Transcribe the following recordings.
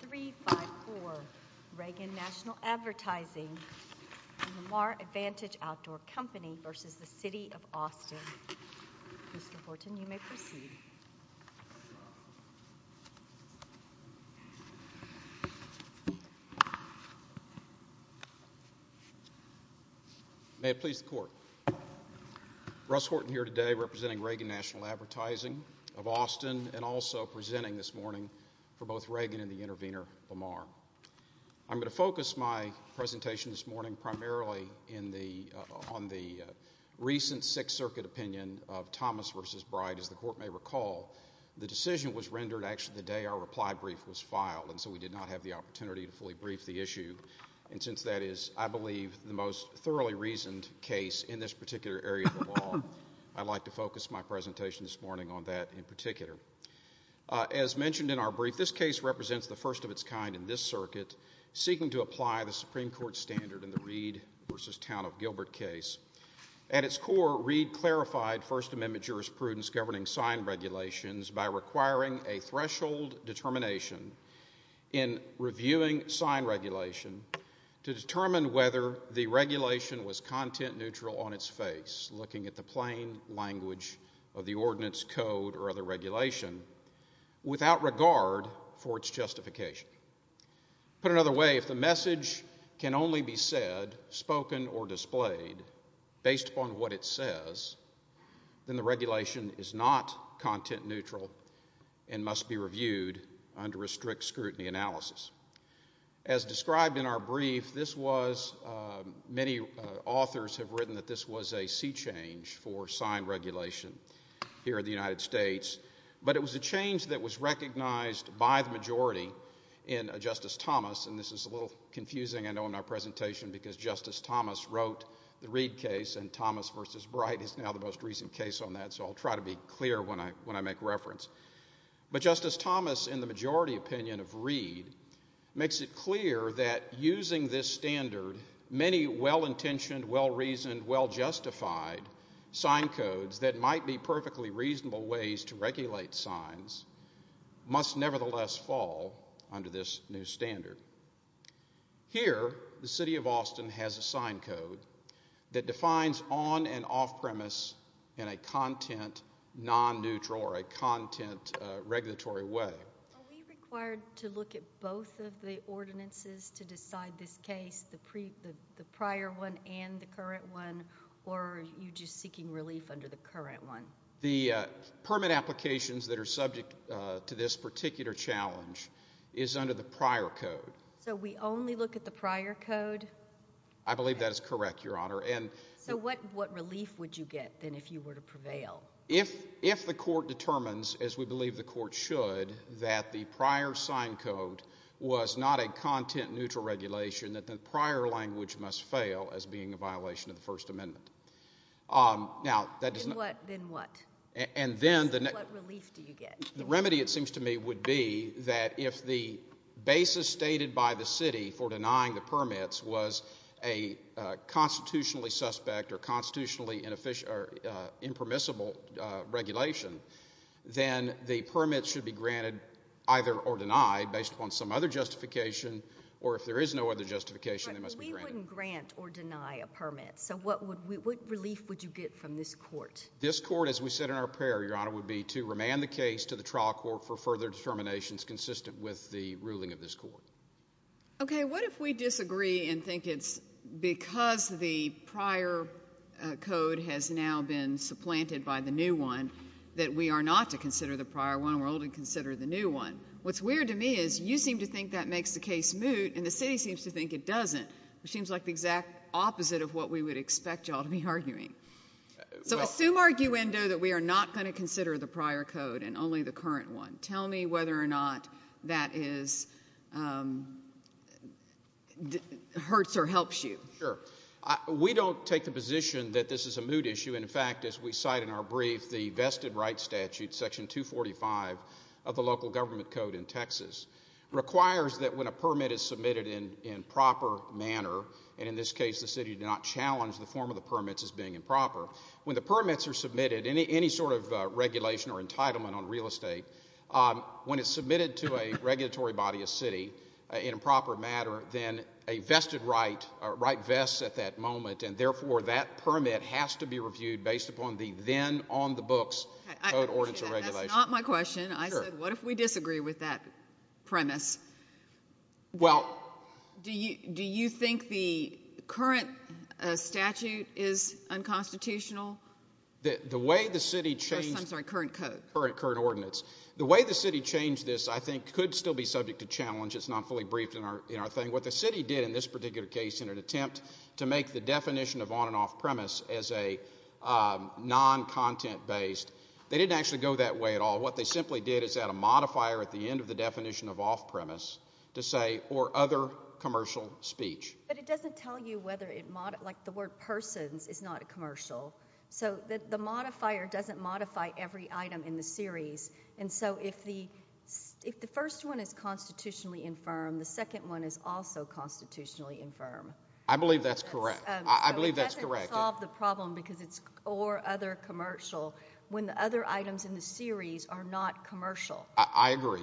3, 5, 4, Reagan Natl Advtsng of Austin v. City of Austin Mr. Horton, you may proceed. May it please the court. Russ Horton here today representing Reagan Natl Advtsng of Austin and also presenting this morning for both Reagan and the intervener, Lamar. I'm going to focus my presentation this morning primarily on the recent Sixth Circuit opinion of Thomas v. Bright. As the court may recall, the decision was rendered actually the day our reply brief was filed and so we did not have the opportunity to fully brief the issue. And since that is, I believe, the most thoroughly reasoned case in this particular area of the law, I'd like to focus my presentation this morning on that in particular. As mentioned in our brief, this case represents the first of its kind in this circuit seeking to apply the Supreme Court standard in the Reed v. Town of Gilbert case. At its core, Reed clarified First Amendment jurisprudence governing sign regulations by requiring a threshold determination in reviewing sign regulation to determine whether the regulation was content neutral on its face looking at the plain language of the ordinance, code, or other regulation without regard for its justification. Put another way, if the message can only be said, spoken, or displayed based upon what it says, then the regulation is not content neutral and must be reviewed under a strict scrutiny analysis. As described in our brief, many authors have written that this was a sea change for sign regulation here in the United States, but it was a change that was recognized by the majority in Justice Thomas, and this is a little confusing, I know, in our presentation because Justice Thomas wrote the Reed case and Thomas v. Bright is now the most reasoned case on that, so I'll try to be clear when I make reference. But Justice Thomas, in the majority opinion of Reed, makes it clear that using this standard, many well-intentioned, well-reasoned, well-justified sign codes that might be perfectly reasonable ways to regulate signs must nevertheless fall under this new standard. Here, the city of Austin has a sign code that defines on and off-premise in a content non-neutral or a content regulatory way. Are we required to look at both of the ordinances to decide this case, the prior one and the current one, or are you just seeking relief under the current one? The permit applications that are subject to this particular challenge is under the prior code. So we only look at the prior code? I believe that is correct, Your Honor. So what relief would you get, then, if you were to prevail? If the court determines, as we believe the court should, that the prior sign code was not a content-neutral regulation, then the prior language must fail as being a violation of the First Amendment. Then what? What relief do you get? The remedy, it seems to me, would be that if the basis stated by the city for denying the permits was a constitutionally suspect or constitutionally impermissible regulation, then the permit should be granted either or denied based upon some other justification, or if there is no other justification, it must be granted. But we wouldn't grant or deny a permit. So what relief would you get from this court? This court, as we said in our prayer, Your Honor, would be to remand the case to the trial court for further determinations that is consistent with the ruling of this court. Okay. What if we disagree and think it's because the prior code has now been supplanted by the new one that we are not to consider the prior one and we're only to consider the new one? What's weird to me is you seem to think that makes the case moot, and the city seems to think it doesn't, which seems like the exact opposite of what we would expect you all to be arguing. So assume arguendo that we are not going to consider the prior code and only the current one. Tell me whether or not that hurts or helps you. Sure. We don't take the position that this is a moot issue. In fact, as we cite in our brief, the vested rights statute, Section 245 of the local government code in Texas, requires that when a permit is submitted in proper manner, and in this case the city did not challenge the form of the permits as being improper, when the permits are submitted, any sort of regulation or entitlement on real estate, when it's submitted to a regulatory body, a city, in a proper manner, then a vested right vests at that moment, and therefore that permit has to be reviewed based upon the then on the books code, ordinance, and regulation. That's not my question. I said what if we disagree with that premise? Well. Do you think the current statute is unconstitutional? The way the city changed. I'm sorry, current code. Current ordinance. The way the city changed this I think could still be subject to challenge. It's not fully briefed in our thing. What the city did in this particular case in an attempt to make the definition of on and off premise as a non-content based, they didn't actually go that way at all. What they simply did is add a modifier at the end of the definition of off premise to say or other commercial speech. But it doesn't tell you whether it like the word persons is not a commercial. So the modifier doesn't modify every item in the series. And so if the first one is constitutionally infirm, the second one is also constitutionally infirm. I believe that's correct. I believe that's correct. Because it's or other commercial when the other items in the series are not commercial. I agree.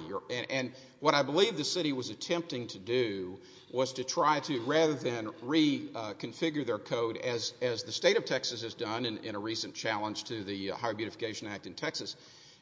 And what I believe the city was attempting to do was to try to rather than reconfigure their code as the state of Texas has done in a recent challenge to the Higher Beautification Act in Texas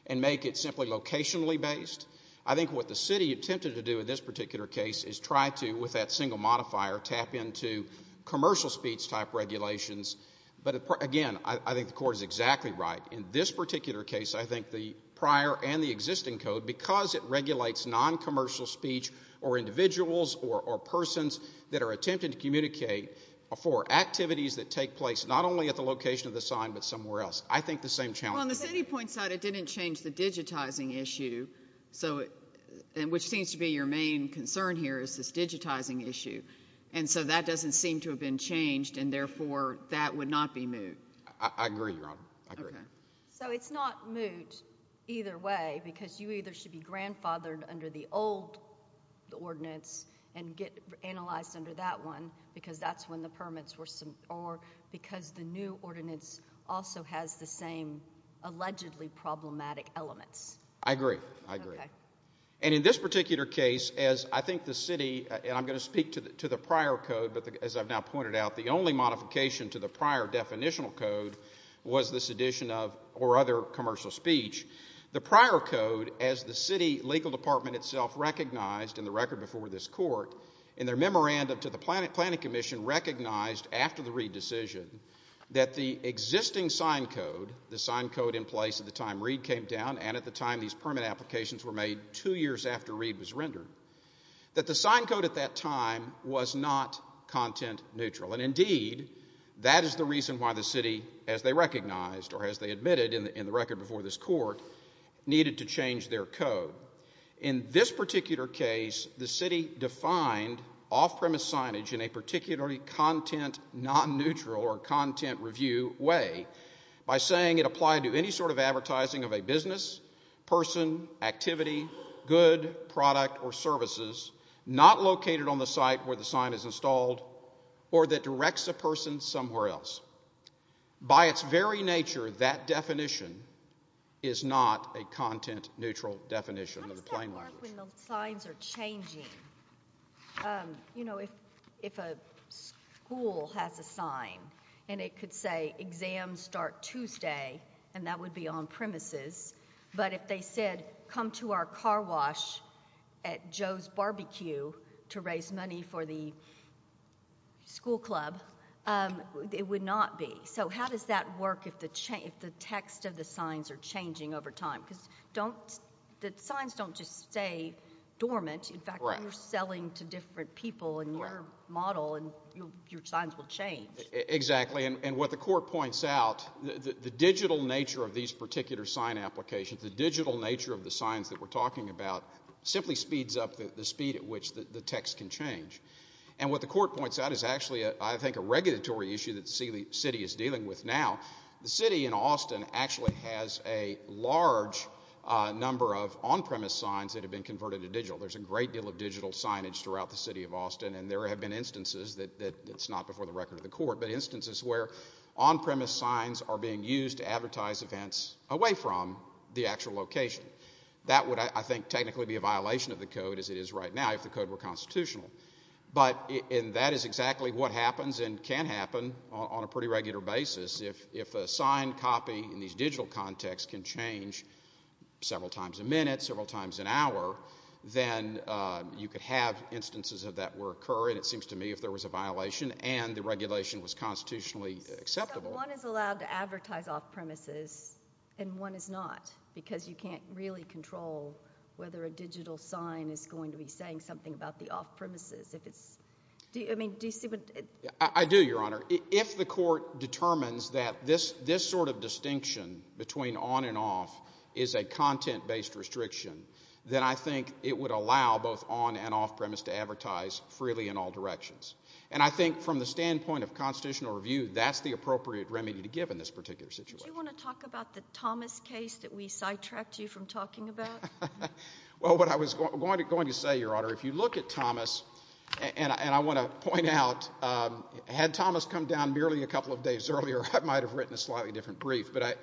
and make it simply locationally based, I think what the city attempted to do in this particular case is try to, with that single modifier, tap into commercial speech type regulations. But, again, I think the court is exactly right. In this particular case, I think the prior and the existing code, because it regulates non-commercial speech or individuals or persons that are attempted to communicate for activities that take place not only at the location of the sign but somewhere else, I think the same challenge. Well, on the city point side, it didn't change the digitizing issue, which seems to be your main concern here is this digitizing issue. And so that doesn't seem to have been changed, and, therefore, that would not be moot. I agree, Your Honor. I agree. So it's not moot either way because you either should be grandfathered under the old ordinance and get analyzed under that one because that's when the permits were, or because the new ordinance also has the same allegedly problematic elements. I agree. I agree. And in this particular case, as I think the city, and I'm going to speak to the prior code, but as I've now pointed out, the only modification to the prior definitional code was this addition of or other commercial speech. The prior code, as the city legal department itself recognized in the record before this court, in their memorandum to the planning commission recognized after the Reed decision that the existing sign code, the sign code in place at the time Reed came down and at the time these permit applications were made two years after Reed was rendered, that the sign code at that time was not content neutral. And, indeed, that is the reason why the city, as they recognized or as they admitted in the record before this court, needed to change their code. In this particular case, the city defined off-premise signage in a particularly content non-neutral or content review way by saying it applied to any sort of advertising of a business, person, activity, good, product, or services not located on the site where the sign is installed or that directs a person somewhere else. By its very nature, that definition is not a content neutral definition of the plain language. How does that work when the signs are changing? You know, if a school has a sign and it could say, exams start Tuesday, and that would be on-premises, but if they said, come to our car wash at Joe's BBQ to raise money for the school club, it would not be. So how does that work if the text of the signs are changing over time? Because the signs don't just stay dormant. In fact, you're selling to different people in your model, and your signs will change. Exactly. And what the court points out, the digital nature of these particular sign applications, the digital nature of the signs that we're talking about simply speeds up the speed at which the text can change. And what the court points out is actually, I think, a regulatory issue that the city is dealing with now. The city in Austin actually has a large number of on-premise signs that have been converted to digital. There's a great deal of digital signage throughout the city of Austin, and there have been instances that it's not before the record of the court, but instances where on-premise signs are being used to advertise events away from the actual location. That would, I think, technically be a violation of the code as it is right now if the code were constitutional. And that is exactly what happens and can happen on a pretty regular basis. If a signed copy in these digital contexts can change several times a minute, several times an hour, then you could have instances of that occur, and it seems to me if there was a violation and the regulation was constitutionally acceptable. One is allowed to advertise off-premises, and one is not, because you can't really control whether a digital sign is going to be saying something about the off-premises if it's—I mean, do you see what— I do, Your Honor. If the court determines that this sort of distinction between on and off is a content-based restriction, then I think it would allow both on and off-premise to advertise freely in all directions. And I think from the standpoint of constitutional review, that's the appropriate remedy to give in this particular situation. Do you want to talk about the Thomas case that we sidetracked you from talking about? Well, what I was going to say, Your Honor, if you look at Thomas— and I want to point out, had Thomas come down merely a couple of days earlier, I might have written a slightly different brief. But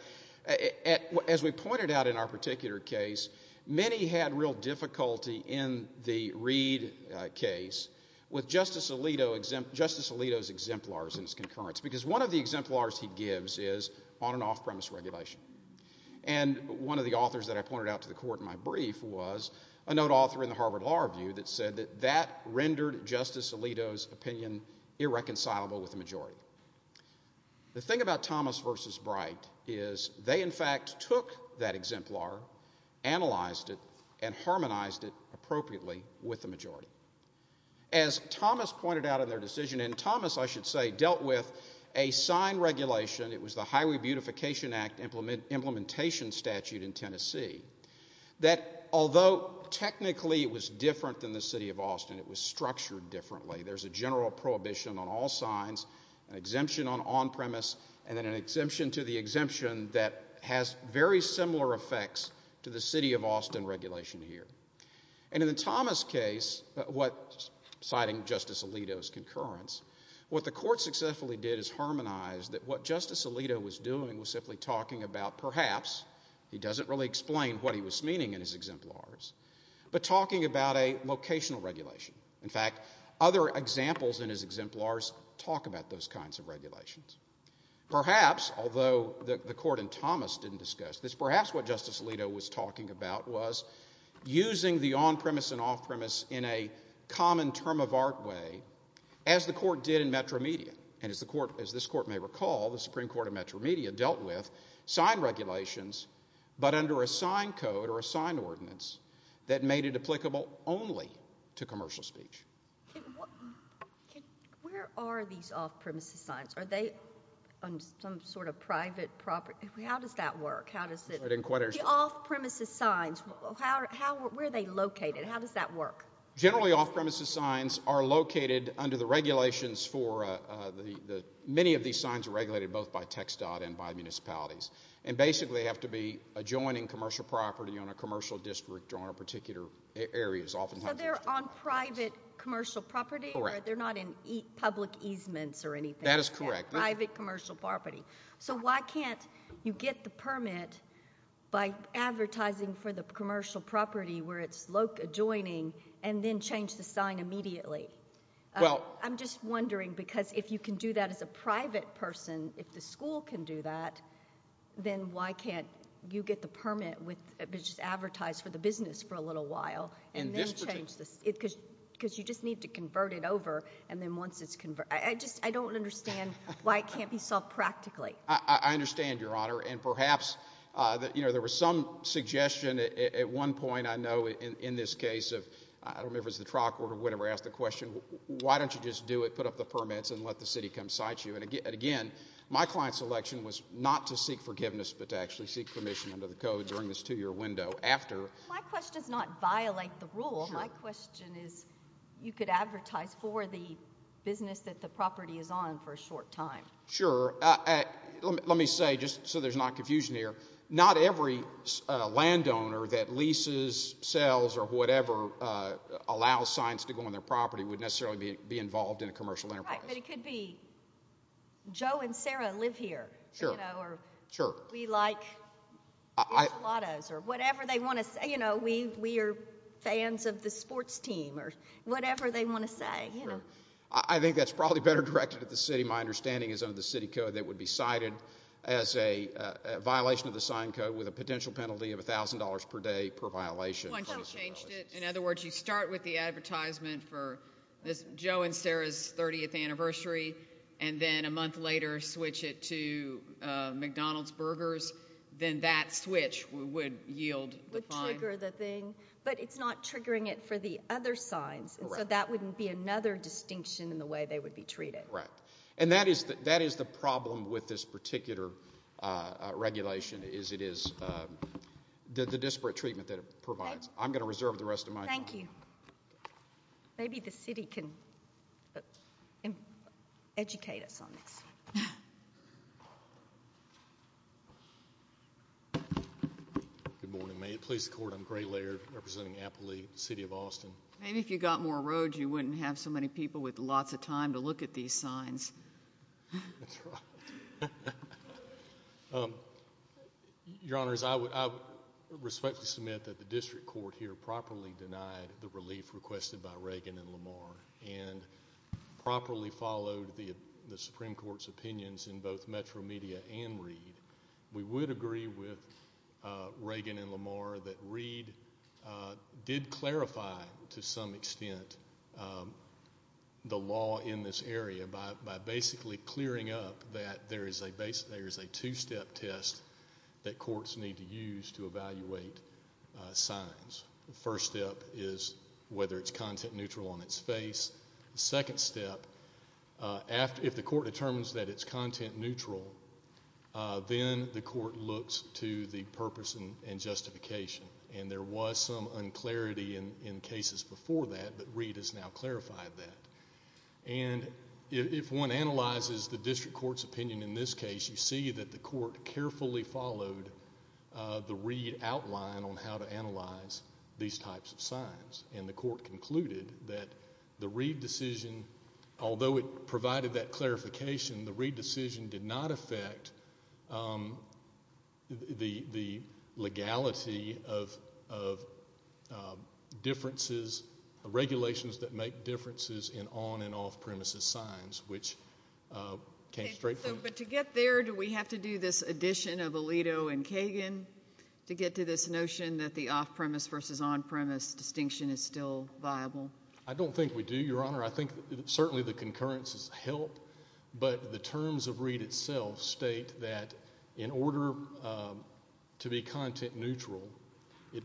as we pointed out in our particular case, many had real difficulty in the Reid case with Justice Alito's exemplars in his concurrence, because one of the exemplars he gives is on- and off-premise regulation. And one of the authors that I pointed out to the court in my brief was a note author in the Harvard Law Review that said that that rendered Justice Alito's opinion irreconcilable with the majority. The thing about Thomas v. Bright is they, in fact, took that exemplar, analyzed it, and harmonized it appropriately with the majority. As Thomas pointed out in their decision—and Thomas, I should say, dealt with a sign regulation. It was the Highway Beautification Act Implementation Statute in Tennessee that, although technically it was different than the city of Austin, it was structured differently. There's a general prohibition on all signs, an exemption on on-premise, and then an exemption to the exemption that has very similar effects to the city of Austin regulation here. And in the Thomas case, citing Justice Alito's concurrence, what the court successfully did is harmonize that what Justice Alito was doing was simply talking about perhaps—he doesn't really explain what he was meaning in his exemplars— but talking about a locational regulation. In fact, other examples in his exemplars talk about those kinds of regulations. Perhaps, although the court in Thomas didn't discuss this, perhaps what Justice Alito was talking about was using the on-premise and off-premise in a common term-of-art way, as the court did in Metro Media. And as this court may recall, the Supreme Court of Metro Media dealt with sign regulations, but under a sign code or a sign ordinance that made it applicable only to commercial speech. Where are these off-premises signs? Are they on some sort of private property? How does that work? The off-premises signs, where are they located? How does that work? Generally, off-premises signs are located under the regulations for— many of these signs are regulated both by TxDOT and by municipalities and basically have to be adjoining commercial property on a commercial district or on a particular area. So they're on private commercial property? Correct. They're not in public easements or anything? That is correct. Private commercial property. So why can't you get the permit by advertising for the commercial property where it's adjoining and then change the sign immediately? Well— I'm just wondering because if you can do that as a private person, if the school can do that, then why can't you get the permit which is advertised for the business for a little while and then change the— And this particular— Because you just need to convert it over, and then once it's converted— I don't understand why it can't be solved practically. I understand, Your Honor. And perhaps there was some suggestion at one point, I know, in this case of— I don't remember if it was the trial court or whatever asked the question, why don't you just do it, put up the permits, and let the city come cite you? And again, my client's selection was not to seek forgiveness but to actually seek permission under the code during this two-year window after— My question does not violate the rule. My question is you could advertise for the business that the property is on for a short time. Sure. Let me say, just so there's not confusion here, not every landowner that leases, sells, or whatever allows signs to go on their property would necessarily be involved in a commercial enterprise. Right, but it could be Joe and Sarah live here. Sure. Or we like enchiladas or whatever they want to say. You know, we are fans of the sports team or whatever they want to say. Sure. I think that's probably better directed at the city. My understanding is under the city code that it would be cited as a violation of the sign code with a potential penalty of $1,000 per day per violation. Once you've changed it. In other words, you start with the advertisement for Joe and Sarah's 30th anniversary and then a month later switch it to McDonald's burgers, then that switch would yield the fine. Would trigger the thing. But it's not triggering it for the other signs. So that wouldn't be another distinction in the way they would be treated. Right. And that is the problem with this particular regulation is it is the disparate treatment that it provides. I'm going to reserve the rest of my time. Thank you. Maybe the city can educate us on this. Good morning. May it please the court, I'm Gray Laird representing Appley, city of Austin. Maybe if you got more roads you wouldn't have so many people with lots of time to look at these signs. That's right. Your Honors, I respectfully submit that the district court here properly denied the relief requested by Reagan and Lamar and properly followed the Supreme Court's opinions in both Metro Media and Reed. We would agree with Reagan and Lamar that Reed did clarify to some extent the law in this area by basically clearing up that there is a two-step test that courts need to use to evaluate signs. The first step is whether it's content neutral on its face. The second step, if the court determines that it's content neutral, then the court looks to the purpose and justification. And there was some unclarity in cases before that, but Reed has now clarified that. And if one analyzes the district court's opinion in this case, you see that the court carefully followed the Reed outline on how to analyze these types of signs. And the court concluded that the Reed decision, although it provided that clarification, the Reed decision did not affect the legality of differences, regulations that make differences in on- and off-premises signs, which came straight from it. But to get there, do we have to do this addition of Alito and Kagan to get to this notion that the off-premise versus on-premise distinction is still viable? I don't think we do, Your Honor. I think certainly the concurrences help, but the terms of Reed itself state that in order to be content neutral, the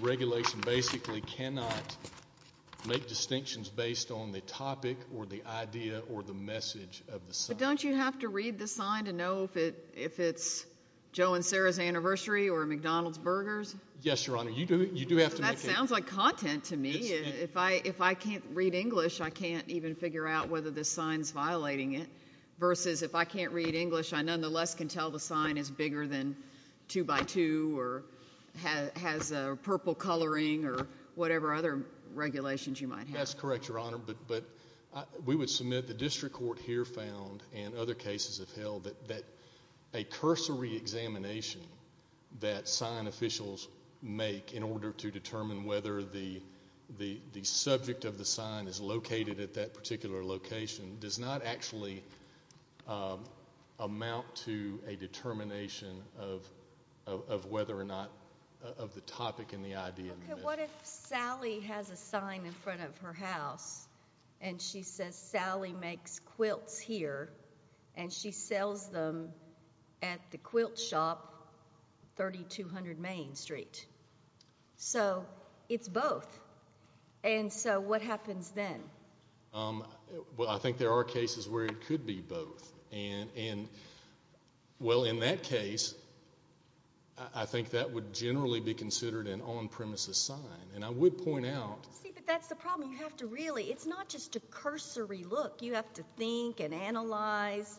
regulation basically cannot make distinctions based on the topic or the idea or the message of the sign. But don't you have to read the sign to know if it's Joe and Sarah's anniversary or McDonald's burgers? Yes, Your Honor. You do have to make that distinction. That sounds like content to me. If I can't read English, I can't even figure out whether the sign's violating it versus if I can't read English, I nonetheless can tell the sign is bigger than two-by-two or has a purple coloring or whatever other regulations you might have. That's correct, Your Honor. But we would submit the district court here found and other cases have held that a cursory examination that sign officials make in order to determine whether the subject of the sign is located at that particular location does not actually amount to a determination of whether or not of the topic and the idea. Okay, what if Sally has a sign in front of her house and she says, Sally makes quilts here and she sells them at the quilt shop 3200 Main Street. So it's both. And so what happens then? Well, I think there are cases where it could be both. And, well, in that case, I think that would generally be considered an on-premises sign. And I would point out— I mean, look, you have to think and analyze.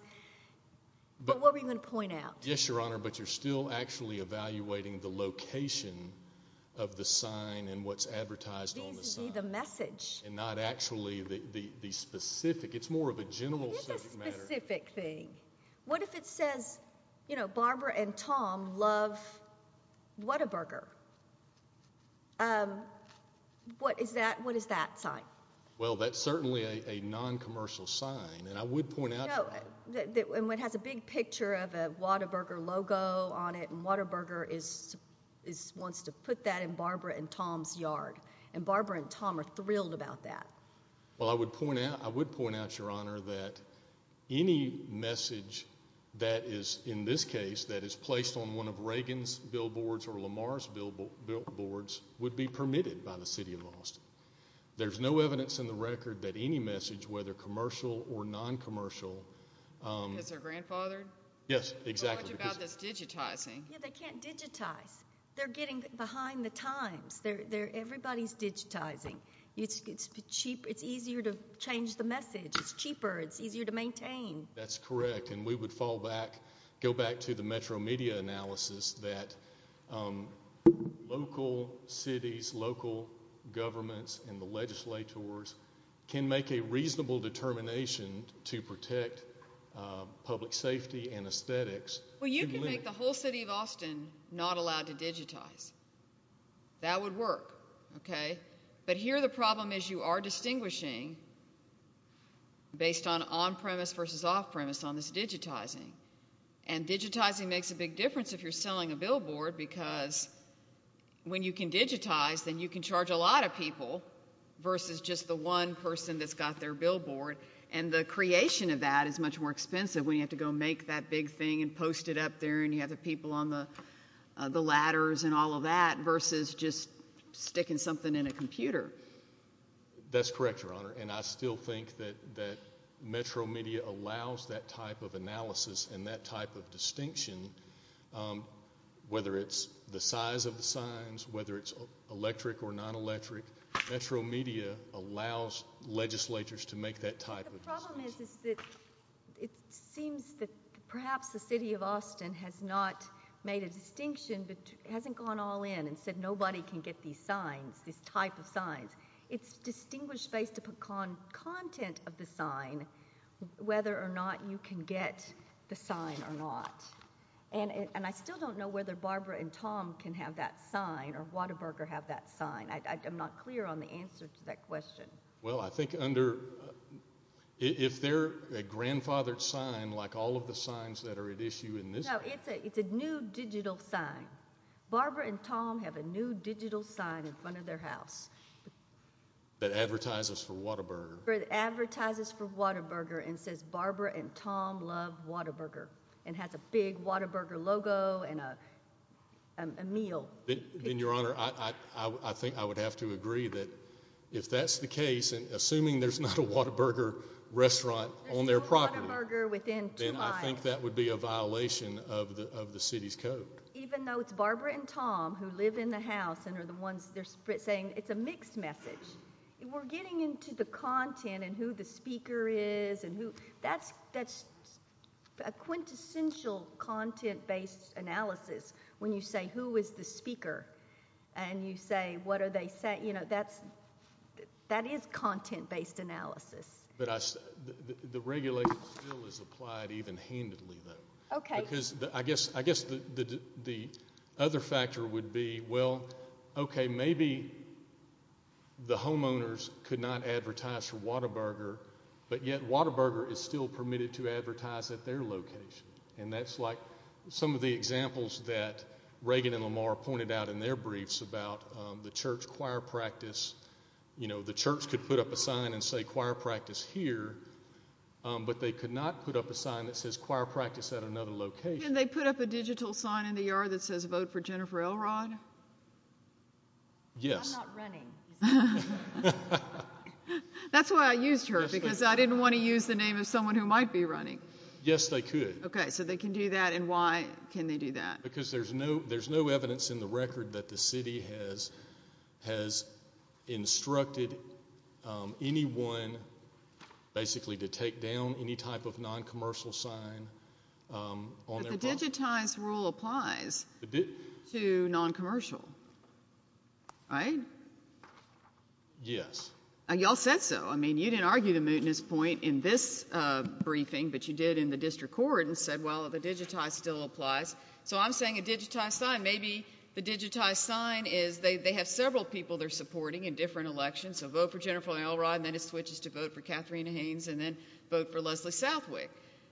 But what were you going to point out? Yes, Your Honor, but you're still actually evaluating the location of the sign and what's advertised on the sign. These would be the message. And not actually the specific. It's more of a general subject matter. It is a specific thing. What if it says, you know, Barbara and Tom love Whataburger? What is that sign? Well, that's certainly a non-commercial sign. And I would point out— No, and it has a big picture of a Whataburger logo on it. And Whataburger wants to put that in Barbara and Tom's yard. And Barbara and Tom are thrilled about that. Well, I would point out, Your Honor, that any message that is, in this case, that is placed on one of Reagan's billboards or Lamar's billboards would be permitted by the city of Austin. There's no evidence in the record that any message, whether commercial or non-commercial— Because they're grandfathered? Yes, exactly. So much about this digitizing. Yeah, they can't digitize. They're getting behind the times. Everybody's digitizing. It's easier to change the message. It's cheaper. It's easier to maintain. That's correct. And we would fall back, go back to the Metro media analysis, that local cities, local governments, and the legislators can make a reasonable determination to protect public safety and aesthetics. Well, you can make the whole city of Austin not allowed to digitize. That would work, okay? But here the problem is you are distinguishing based on on-premise versus off-premise on this digitizing. And digitizing makes a big difference if you're selling a billboard because when you can digitize, then you can charge a lot of people versus just the one person that's got their billboard. And the creation of that is much more expensive when you have to go make that big thing and post it up there and you have the people on the ladders and all of that That's correct, Your Honor. And I still think that Metro media allows that type of analysis and that type of distinction, whether it's the size of the signs, whether it's electric or non-electric. Metro media allows legislators to make that type of distinction. The problem is that it seems that perhaps the city of Austin has not made a distinction but hasn't gone all in and said nobody can get these signs, this type of signs. It's distinguished based upon content of the sign, whether or not you can get the sign or not. And I still don't know whether Barbara and Tom can have that sign or Whataburger have that sign. I'm not clear on the answer to that question. Well, I think under, if they're a grandfathered sign, like all of the signs that are at issue in this country. No, it's a new digital sign. Barbara and Tom have a new digital sign in front of their house. That advertises for Whataburger. That advertises for Whataburger and says Barbara and Tom love Whataburger and has a big Whataburger logo and a meal. Then, Your Honor, I think I would have to agree that if that's the case, and assuming there's not a Whataburger restaurant on their property, then I think that would be a violation of the city's code. Even though it's Barbara and Tom who live in the house and are the ones saying it's a mixed message. We're getting into the content and who the speaker is. That's a quintessential content-based analysis when you say, Who is the speaker? And you say, What are they saying? That is content-based analysis. The regulation still is applied even handedly, though. I guess the other factor would be, well, okay, maybe the homeowners could not advertise for Whataburger, but yet Whataburger is still permitted to advertise at their location. And that's like some of the examples that Reagan and Lamar pointed out in their briefs about the church choir practice. The church could put up a sign and say, Choir practice here, but they could not put up a sign that says, Choir practice at another location. Can they put up a digital sign in the yard that says, Vote for Jennifer Elrod? Yes. I'm not running. That's why I used her, because I didn't want to use the name of someone who might be running. Yes, they could. Okay, so they can do that, and why can they do that? Because there's no evidence in the record that the city has instructed anyone, basically, to take down any type of noncommercial sign on their property. But the digitized rule applies to noncommercial, right? Yes. Y'all said so. I mean, you didn't argue the mootness point in this briefing, but you did in the district court and said, Well, the digitized still applies. So I'm saying a digitized sign. Maybe the digitized sign is they have several people they're supporting in different elections. So vote for Jennifer Elrod, and then it switches to vote for Katharina Haynes, and then vote for Leslie Southwick.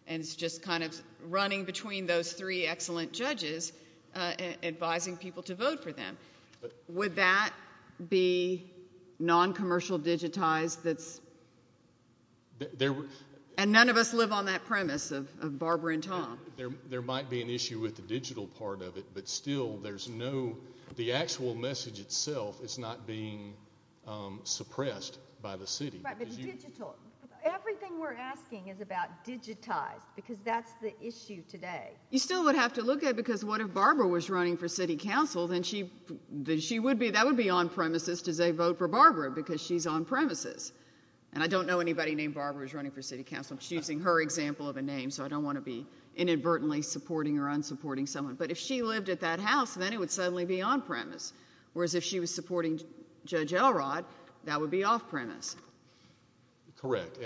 And it's just kind of running between those three excellent judges advising people to vote for them. Would that be noncommercial digitized? And none of us live on that premise of Barbara and Tom. There might be an issue with the digital part of it, but still the actual message itself is not being suppressed by the city. Right, but the digital. Everything we're asking is about digitized, because that's the issue today. You still would have to look at it, because what if Barbara was running for city council, then that would be on-premises to say vote for Barbara, because she's on-premises. And I don't know anybody named Barbara who's running for city council. I'm just using her example of a name, so I don't want to be inadvertently supporting or unsupporting someone. But if she lived at that house, then it would suddenly be on-premise. Whereas if she was supporting Judge Elrod, that would be off-premise. Correct.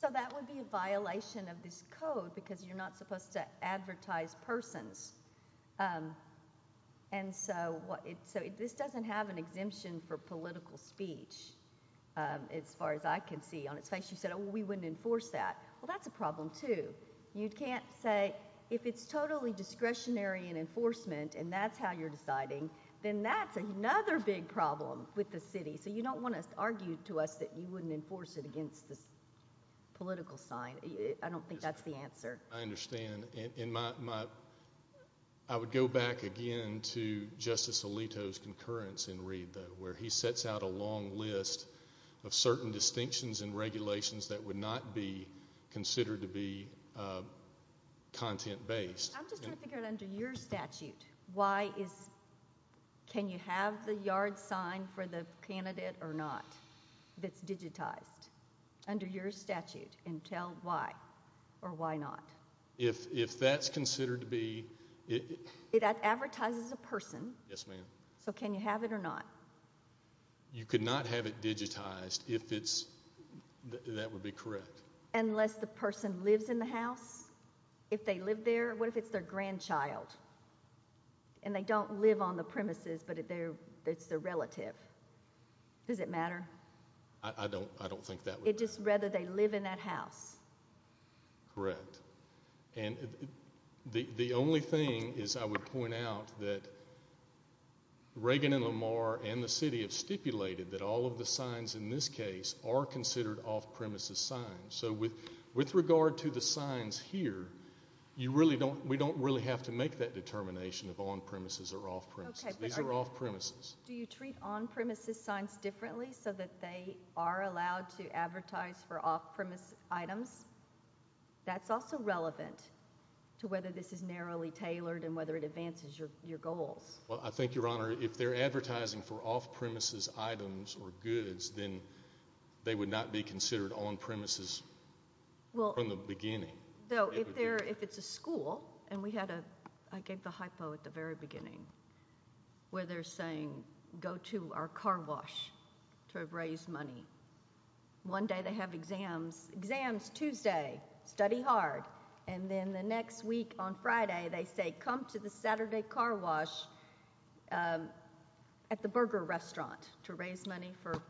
So that would be a violation of this code, because you're not supposed to advertise persons. And so this doesn't have an exemption for political speech, as far as I can see on its face. You said, oh, we wouldn't enforce that. Well, that's a problem, too. You can't say, if it's totally discretionary in enforcement and that's how you're deciding, then that's another big problem with the city. So you don't want to argue to us that you wouldn't enforce it against this political sign. I don't think that's the answer. I understand. I would go back again to Justice Alito's concurrence in Reed, though, where he sets out a long list of certain distinctions in regulations that would not be considered to be content-based. I'm just trying to figure out, under your statute, can you have the yard sign for the candidate or not that's digitized, under your statute, and tell why or why not? If that's considered to be – It advertises a person. Yes, ma'am. So can you have it or not? You could not have it digitized if it's – that would be correct. Unless the person lives in the house? If they live there, what if it's their grandchild and they don't live on the premises but it's their relative? Does it matter? I don't think that would matter. It's just whether they live in that house. Correct. The only thing is I would point out that Reagan and Lamar and the city have stipulated that all of the signs in this case are considered off-premises signs. So with regard to the signs here, we don't really have to make that determination of on-premises or off-premises. These are off-premises. Do you treat on-premises signs differently so that they are allowed to advertise for off-premise items? That's also relevant to whether this is narrowly tailored and whether it advances your goals. Well, I think, Your Honor, if they're advertising for off-premises items or goods, then they would not be considered on-premises from the beginning. Though if it's a school, and we had a – I gave the hypo at the very beginning where they're saying, go to our car wash to raise money. One day they have exams. Exams Tuesday, study hard. And then the next week on Friday they say, come to the Saturday car wash at the burger restaurant to raise money for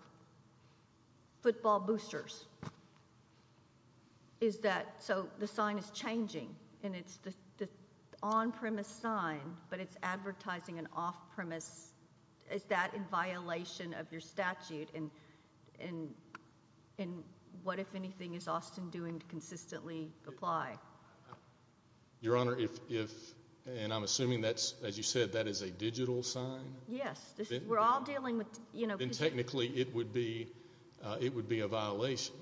football boosters. So the sign is changing, and it's the on-premise sign, but it's advertising an off-premise. Is that in violation of your statute? And what, if anything, is Austin doing to consistently apply? Your Honor, if – and I'm assuming, as you said, that is a digital sign. Yes. We're all dealing with – Then technically it would be a violation.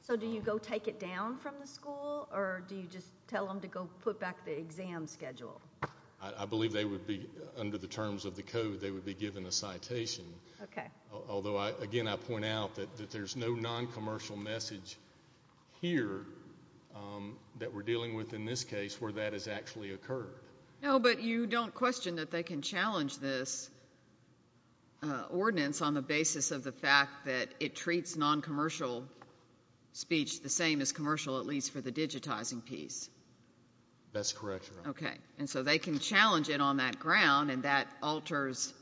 So do you go take it down from the school, or do you just tell them to go put back the exam schedule? I believe they would be – under the terms of the code, they would be given a citation. Okay. Although, again, I point out that there's no noncommercial message here that we're dealing with in this case where that has actually occurred. No, but you don't question that they can challenge this ordinance on the basis of the fact that it treats noncommercial speech the same as commercial, at least for the digitizing piece. That's correct, Your Honor. Okay. And so they can challenge it on that ground, and that alters,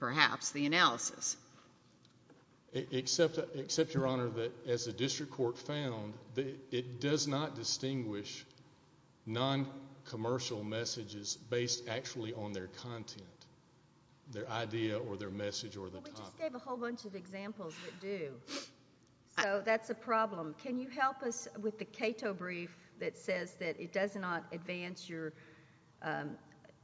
perhaps, the analysis. Except, Your Honor, that as the district court found, it does not distinguish noncommercial messages based actually on their content, their idea or their message or the topic. Well, we just gave a whole bunch of examples that do. So that's a problem. Can you help us with the Cato brief that says that it does not advance your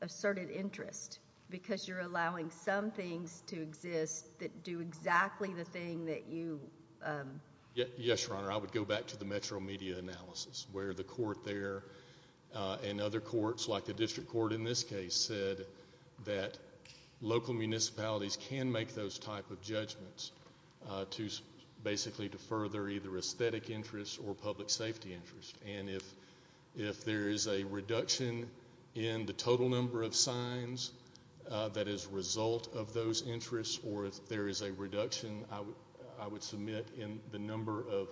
asserted interest because you're allowing some things to exist that do exactly the thing that you – Yes, Your Honor. I would go back to the metro media analysis where the court there and other courts like the district court in this case said that local municipalities can make those type of judgments basically to further either aesthetic interests or public safety interests. And if there is a reduction in the total number of signs that is a result of those interests or if there is a reduction, I would submit, in the number of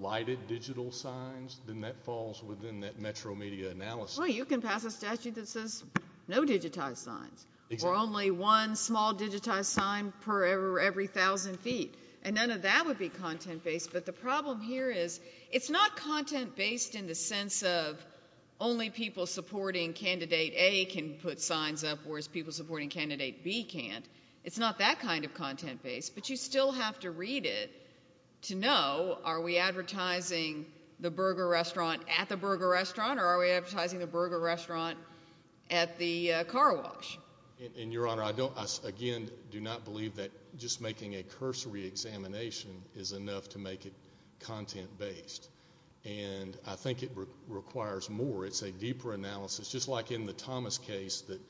lighted digital signs, then that falls within that metro media analysis. Well, you can pass a statute that says no digitized signs or only one small digitized sign per every 1,000 feet, and none of that would be content-based. But the problem here is it's not content-based in the sense of only people supporting Candidate A can put signs up whereas people supporting Candidate B can't. It's not that kind of content-based. But you still have to read it to know, are we advertising the burger restaurant at the burger restaurant or are we advertising the burger restaurant at the car wash? And, Your Honor, I don't – I don't think it's content-based. And I think it requires more. It's a deeper analysis, just like in the Thomas case that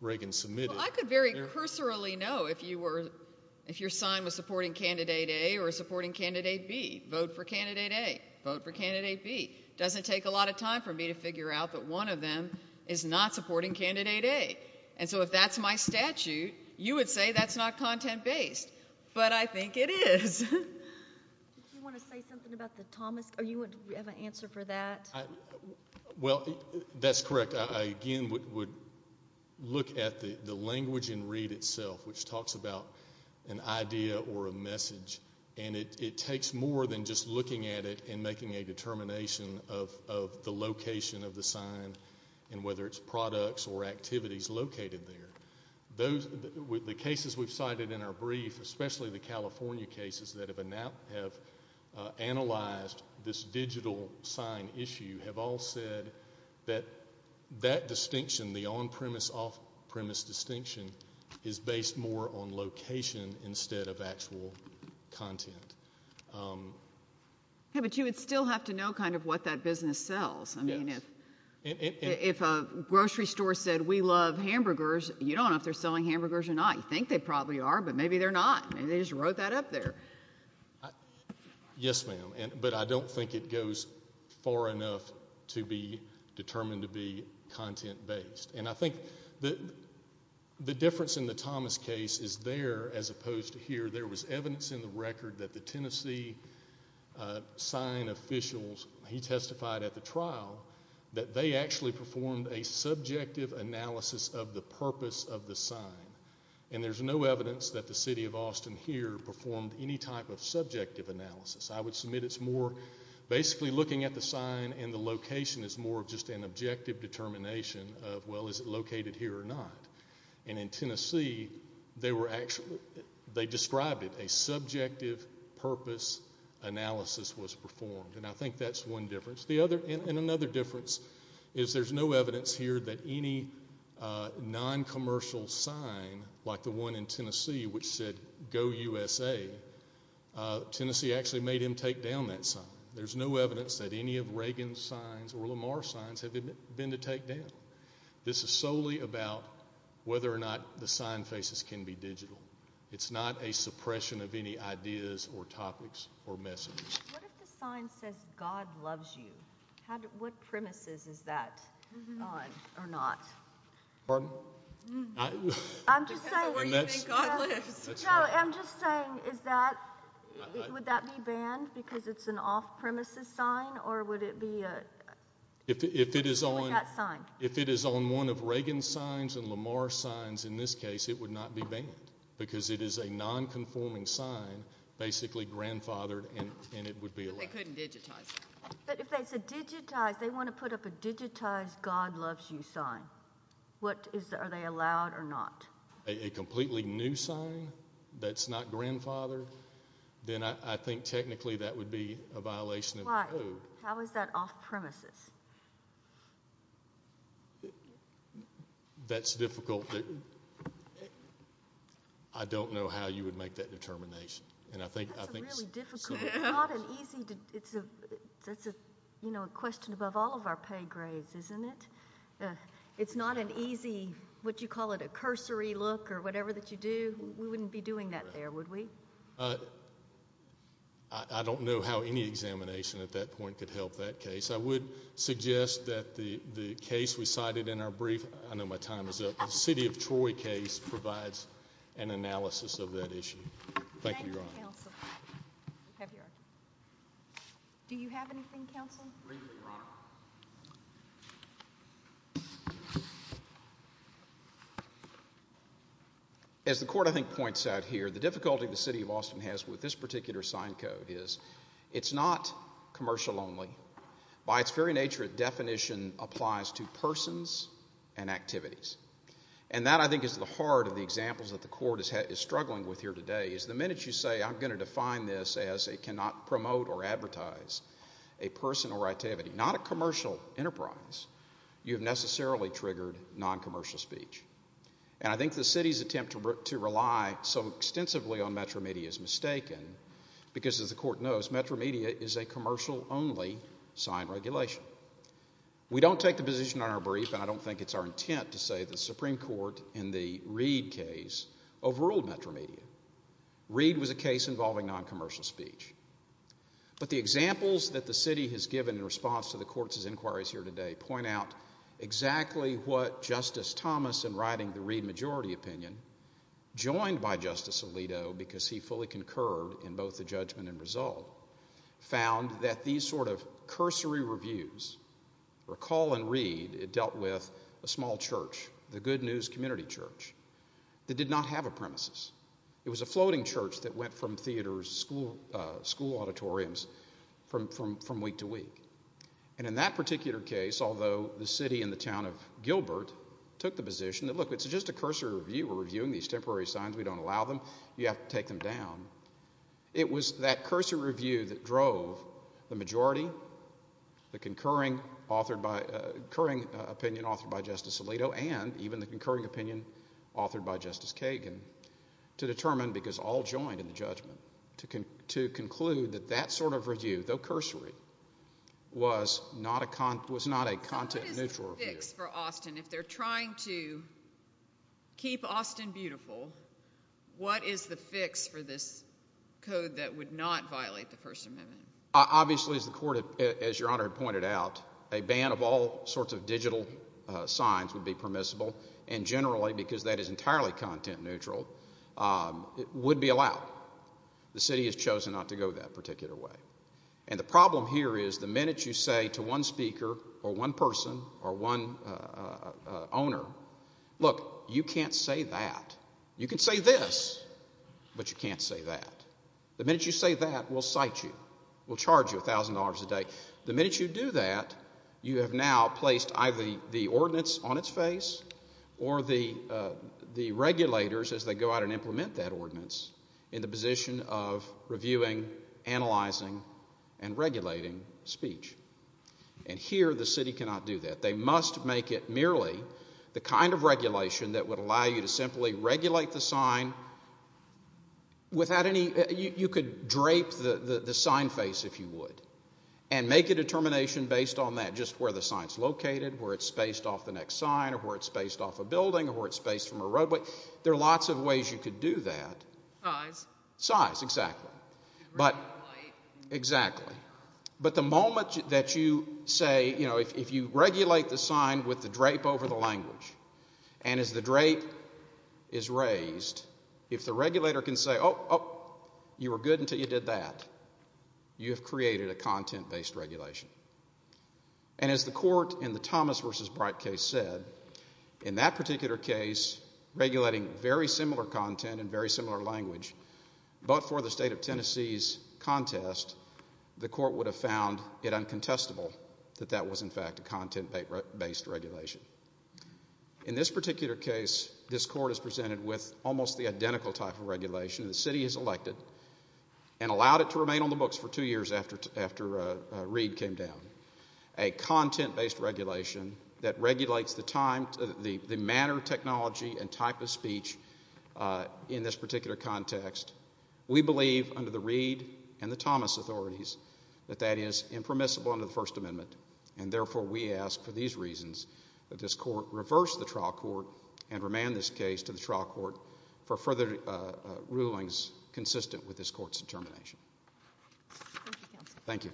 Reagan submitted. Well, I could very cursorily know if you were – if your sign was supporting Candidate A or supporting Candidate B. Vote for Candidate A. Vote for Candidate B. It doesn't take a lot of time for me to figure out that one of them is not supporting Candidate A. And so if that's my statute, you would say that's not content-based. But I think it is. Do you want to say something about the Thomas – do you have an answer for that? Well, that's correct. I, again, would look at the language and read itself, which talks about an idea or a message. And it takes more than just looking at it and making a determination of the location of the sign and whether it's products or activities located there. The cases we've cited in our brief, especially the California cases that have analyzed this digital sign issue, have all said that that distinction, the on-premise, off-premise distinction, is based more on location instead of actual content. Yeah, but you would still have to know kind of what that business sells. Yes. I mean, if a grocery store said, we love hamburgers, you don't know if they're selling hamburgers or not. You think they probably are, but maybe they're not. Maybe they just wrote that up there. Yes, ma'am. But I don't think it goes far enough to be determined to be content-based. And I think the difference in the Thomas case is there as opposed to here. There was evidence in the record that the Tennessee sign officials, he testified at the trial, that they actually performed a subjective analysis of the purpose of the sign. And there's no evidence that the city of Austin here performed any type of subjective analysis. I would submit it's more basically looking at the sign and the location is more of just an objective determination of, well, is it located here or not? And in Tennessee, they described it. A subjective purpose analysis was performed. And I think that's one difference. And another difference is there's no evidence here that any noncommercial sign, like the one in Tennessee which said, Go USA, Tennessee actually made him take down that sign. There's no evidence that any of Reagan's signs or Lamar's signs have been to take down. This is solely about whether or not the sign faces can be digital. It's not a suppression of any ideas or topics or messages. What if the sign says God loves you? What premises is that on or not? Pardon? I'm just saying is that, would that be banned because it's an off-premises sign or would it be a sign? If it is on one of Reagan's signs and Lamar's signs, in this case, it would not be banned because it is a nonconforming sign, basically grandfathered, and it would be allowed. But they couldn't digitize it. But if they said digitize, they want to put up a digitized God loves you sign. Are they allowed or not? A completely new sign that's not grandfathered, then I think technically that would be a violation of the code. Why? How is that off-premises? That's difficult. I don't know how you would make that determination. That's really difficult. It's a question above all of our pay grades, isn't it? It's not an easy, what you call it, a cursory look or whatever that you do. We wouldn't be doing that there, would we? I don't know how any examination at that point could help that case. I would suggest that the case we cited in our brief, I know my time is up, the city of Troy case provides an analysis of that issue. Thank you, Your Honor. Thank you, Counsel. Do you have anything, Counsel? Briefly, Your Honor. As the court, I think, points out here, the difficulty the city of Austin has with this particular sign code is it's not commercial only. By its very nature, its definition applies to persons and activities. That, I think, is the heart of the examples that the court is struggling with here today. The minute you say I'm going to define this as it cannot promote or advertise a person or activity, not a commercial enterprise, you have necessarily triggered non-commercial speech. I think the city's attempt to rely so extensively on Metro Media is mistaken because, as the court knows, Metro Media is a commercial only signed regulation. We don't take the position in our brief, and I don't think it's our intent to say the Supreme Court in the Reid case overruled Metro Media. Reid was a case involving non-commercial speech. But the examples that the city has given in response to the court's inquiries here today point out exactly what Justice Thomas, in writing the Reid majority opinion, joined by Justice Alito because he fully concurred in both the judgment and result, found that these sort of cursory reviews, recall and read, it dealt with a small church, the Good News Community Church, that did not have a premises. It was a floating church that went from theaters, school auditoriums, from week to week. And in that particular case, although the city and the town of Gilbert took the position that, look, it's just a cursory review. We're reviewing these temporary signs. We don't allow them. You have to take them down. It was that cursory review that drove the majority, the concurring opinion authored by Justice Alito, and even the concurring opinion authored by Justice Kagan to determine, because all joined in the judgment, to conclude that that sort of review, though cursory, was not a content-neutral review. What is the fix for Austin? If they're trying to keep Austin beautiful, what is the fix for this code that would not violate the First Amendment? Obviously, as the Court, as Your Honor pointed out, a ban of all sorts of digital signs would be permissible, and generally, because that is entirely content-neutral, it would be allowed. The city has chosen not to go that particular way. And the problem here is the minute you say to one speaker or one person or one owner, look, you can't say that. You can say this, but you can't say that. The minute you say that, we'll cite you. We'll charge you $1,000 a day. The minute you do that, you have now placed either the ordinance on its face or the regulators, as they go out and implement that ordinance, in the position of reviewing, analyzing, and regulating speech. And here the city cannot do that. They must make it merely the kind of regulation that would allow you to simply regulate the sign without any – you could drape the sign face, if you would, and make a determination based on that, not just where the sign's located, where it's spaced off the next sign, or where it's spaced off a building, or where it's spaced from a roadway. There are lots of ways you could do that. Size. Size, exactly. Reduce the height. Exactly. But the moment that you say – if you regulate the sign with the drape over the language, and as the drape is raised, if the regulator can say, you were good until you did that, you have created a content-based regulation. And as the court in the Thomas v. Bright case said, in that particular case, regulating very similar content and very similar language, but for the state of Tennessee's contest, the court would have found it uncontestable that that was, in fact, a content-based regulation. In this particular case, this court is presented with almost the identical type of regulation. The city has elected and allowed it to remain on the books for two years after Reed came down. A content-based regulation that regulates the manner, technology, and type of speech in this particular context. We believe, under the Reed and the Thomas authorities, that that is impermissible under the First Amendment. And therefore, we ask for these reasons that this court reverse the trial court and remand this case to the trial court for further rulings consistent with this court's determination. Thank you, counsel. Thank you.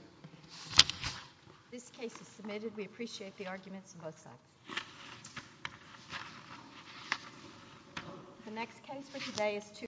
This case is submitted. We appreciate the arguments on both sides.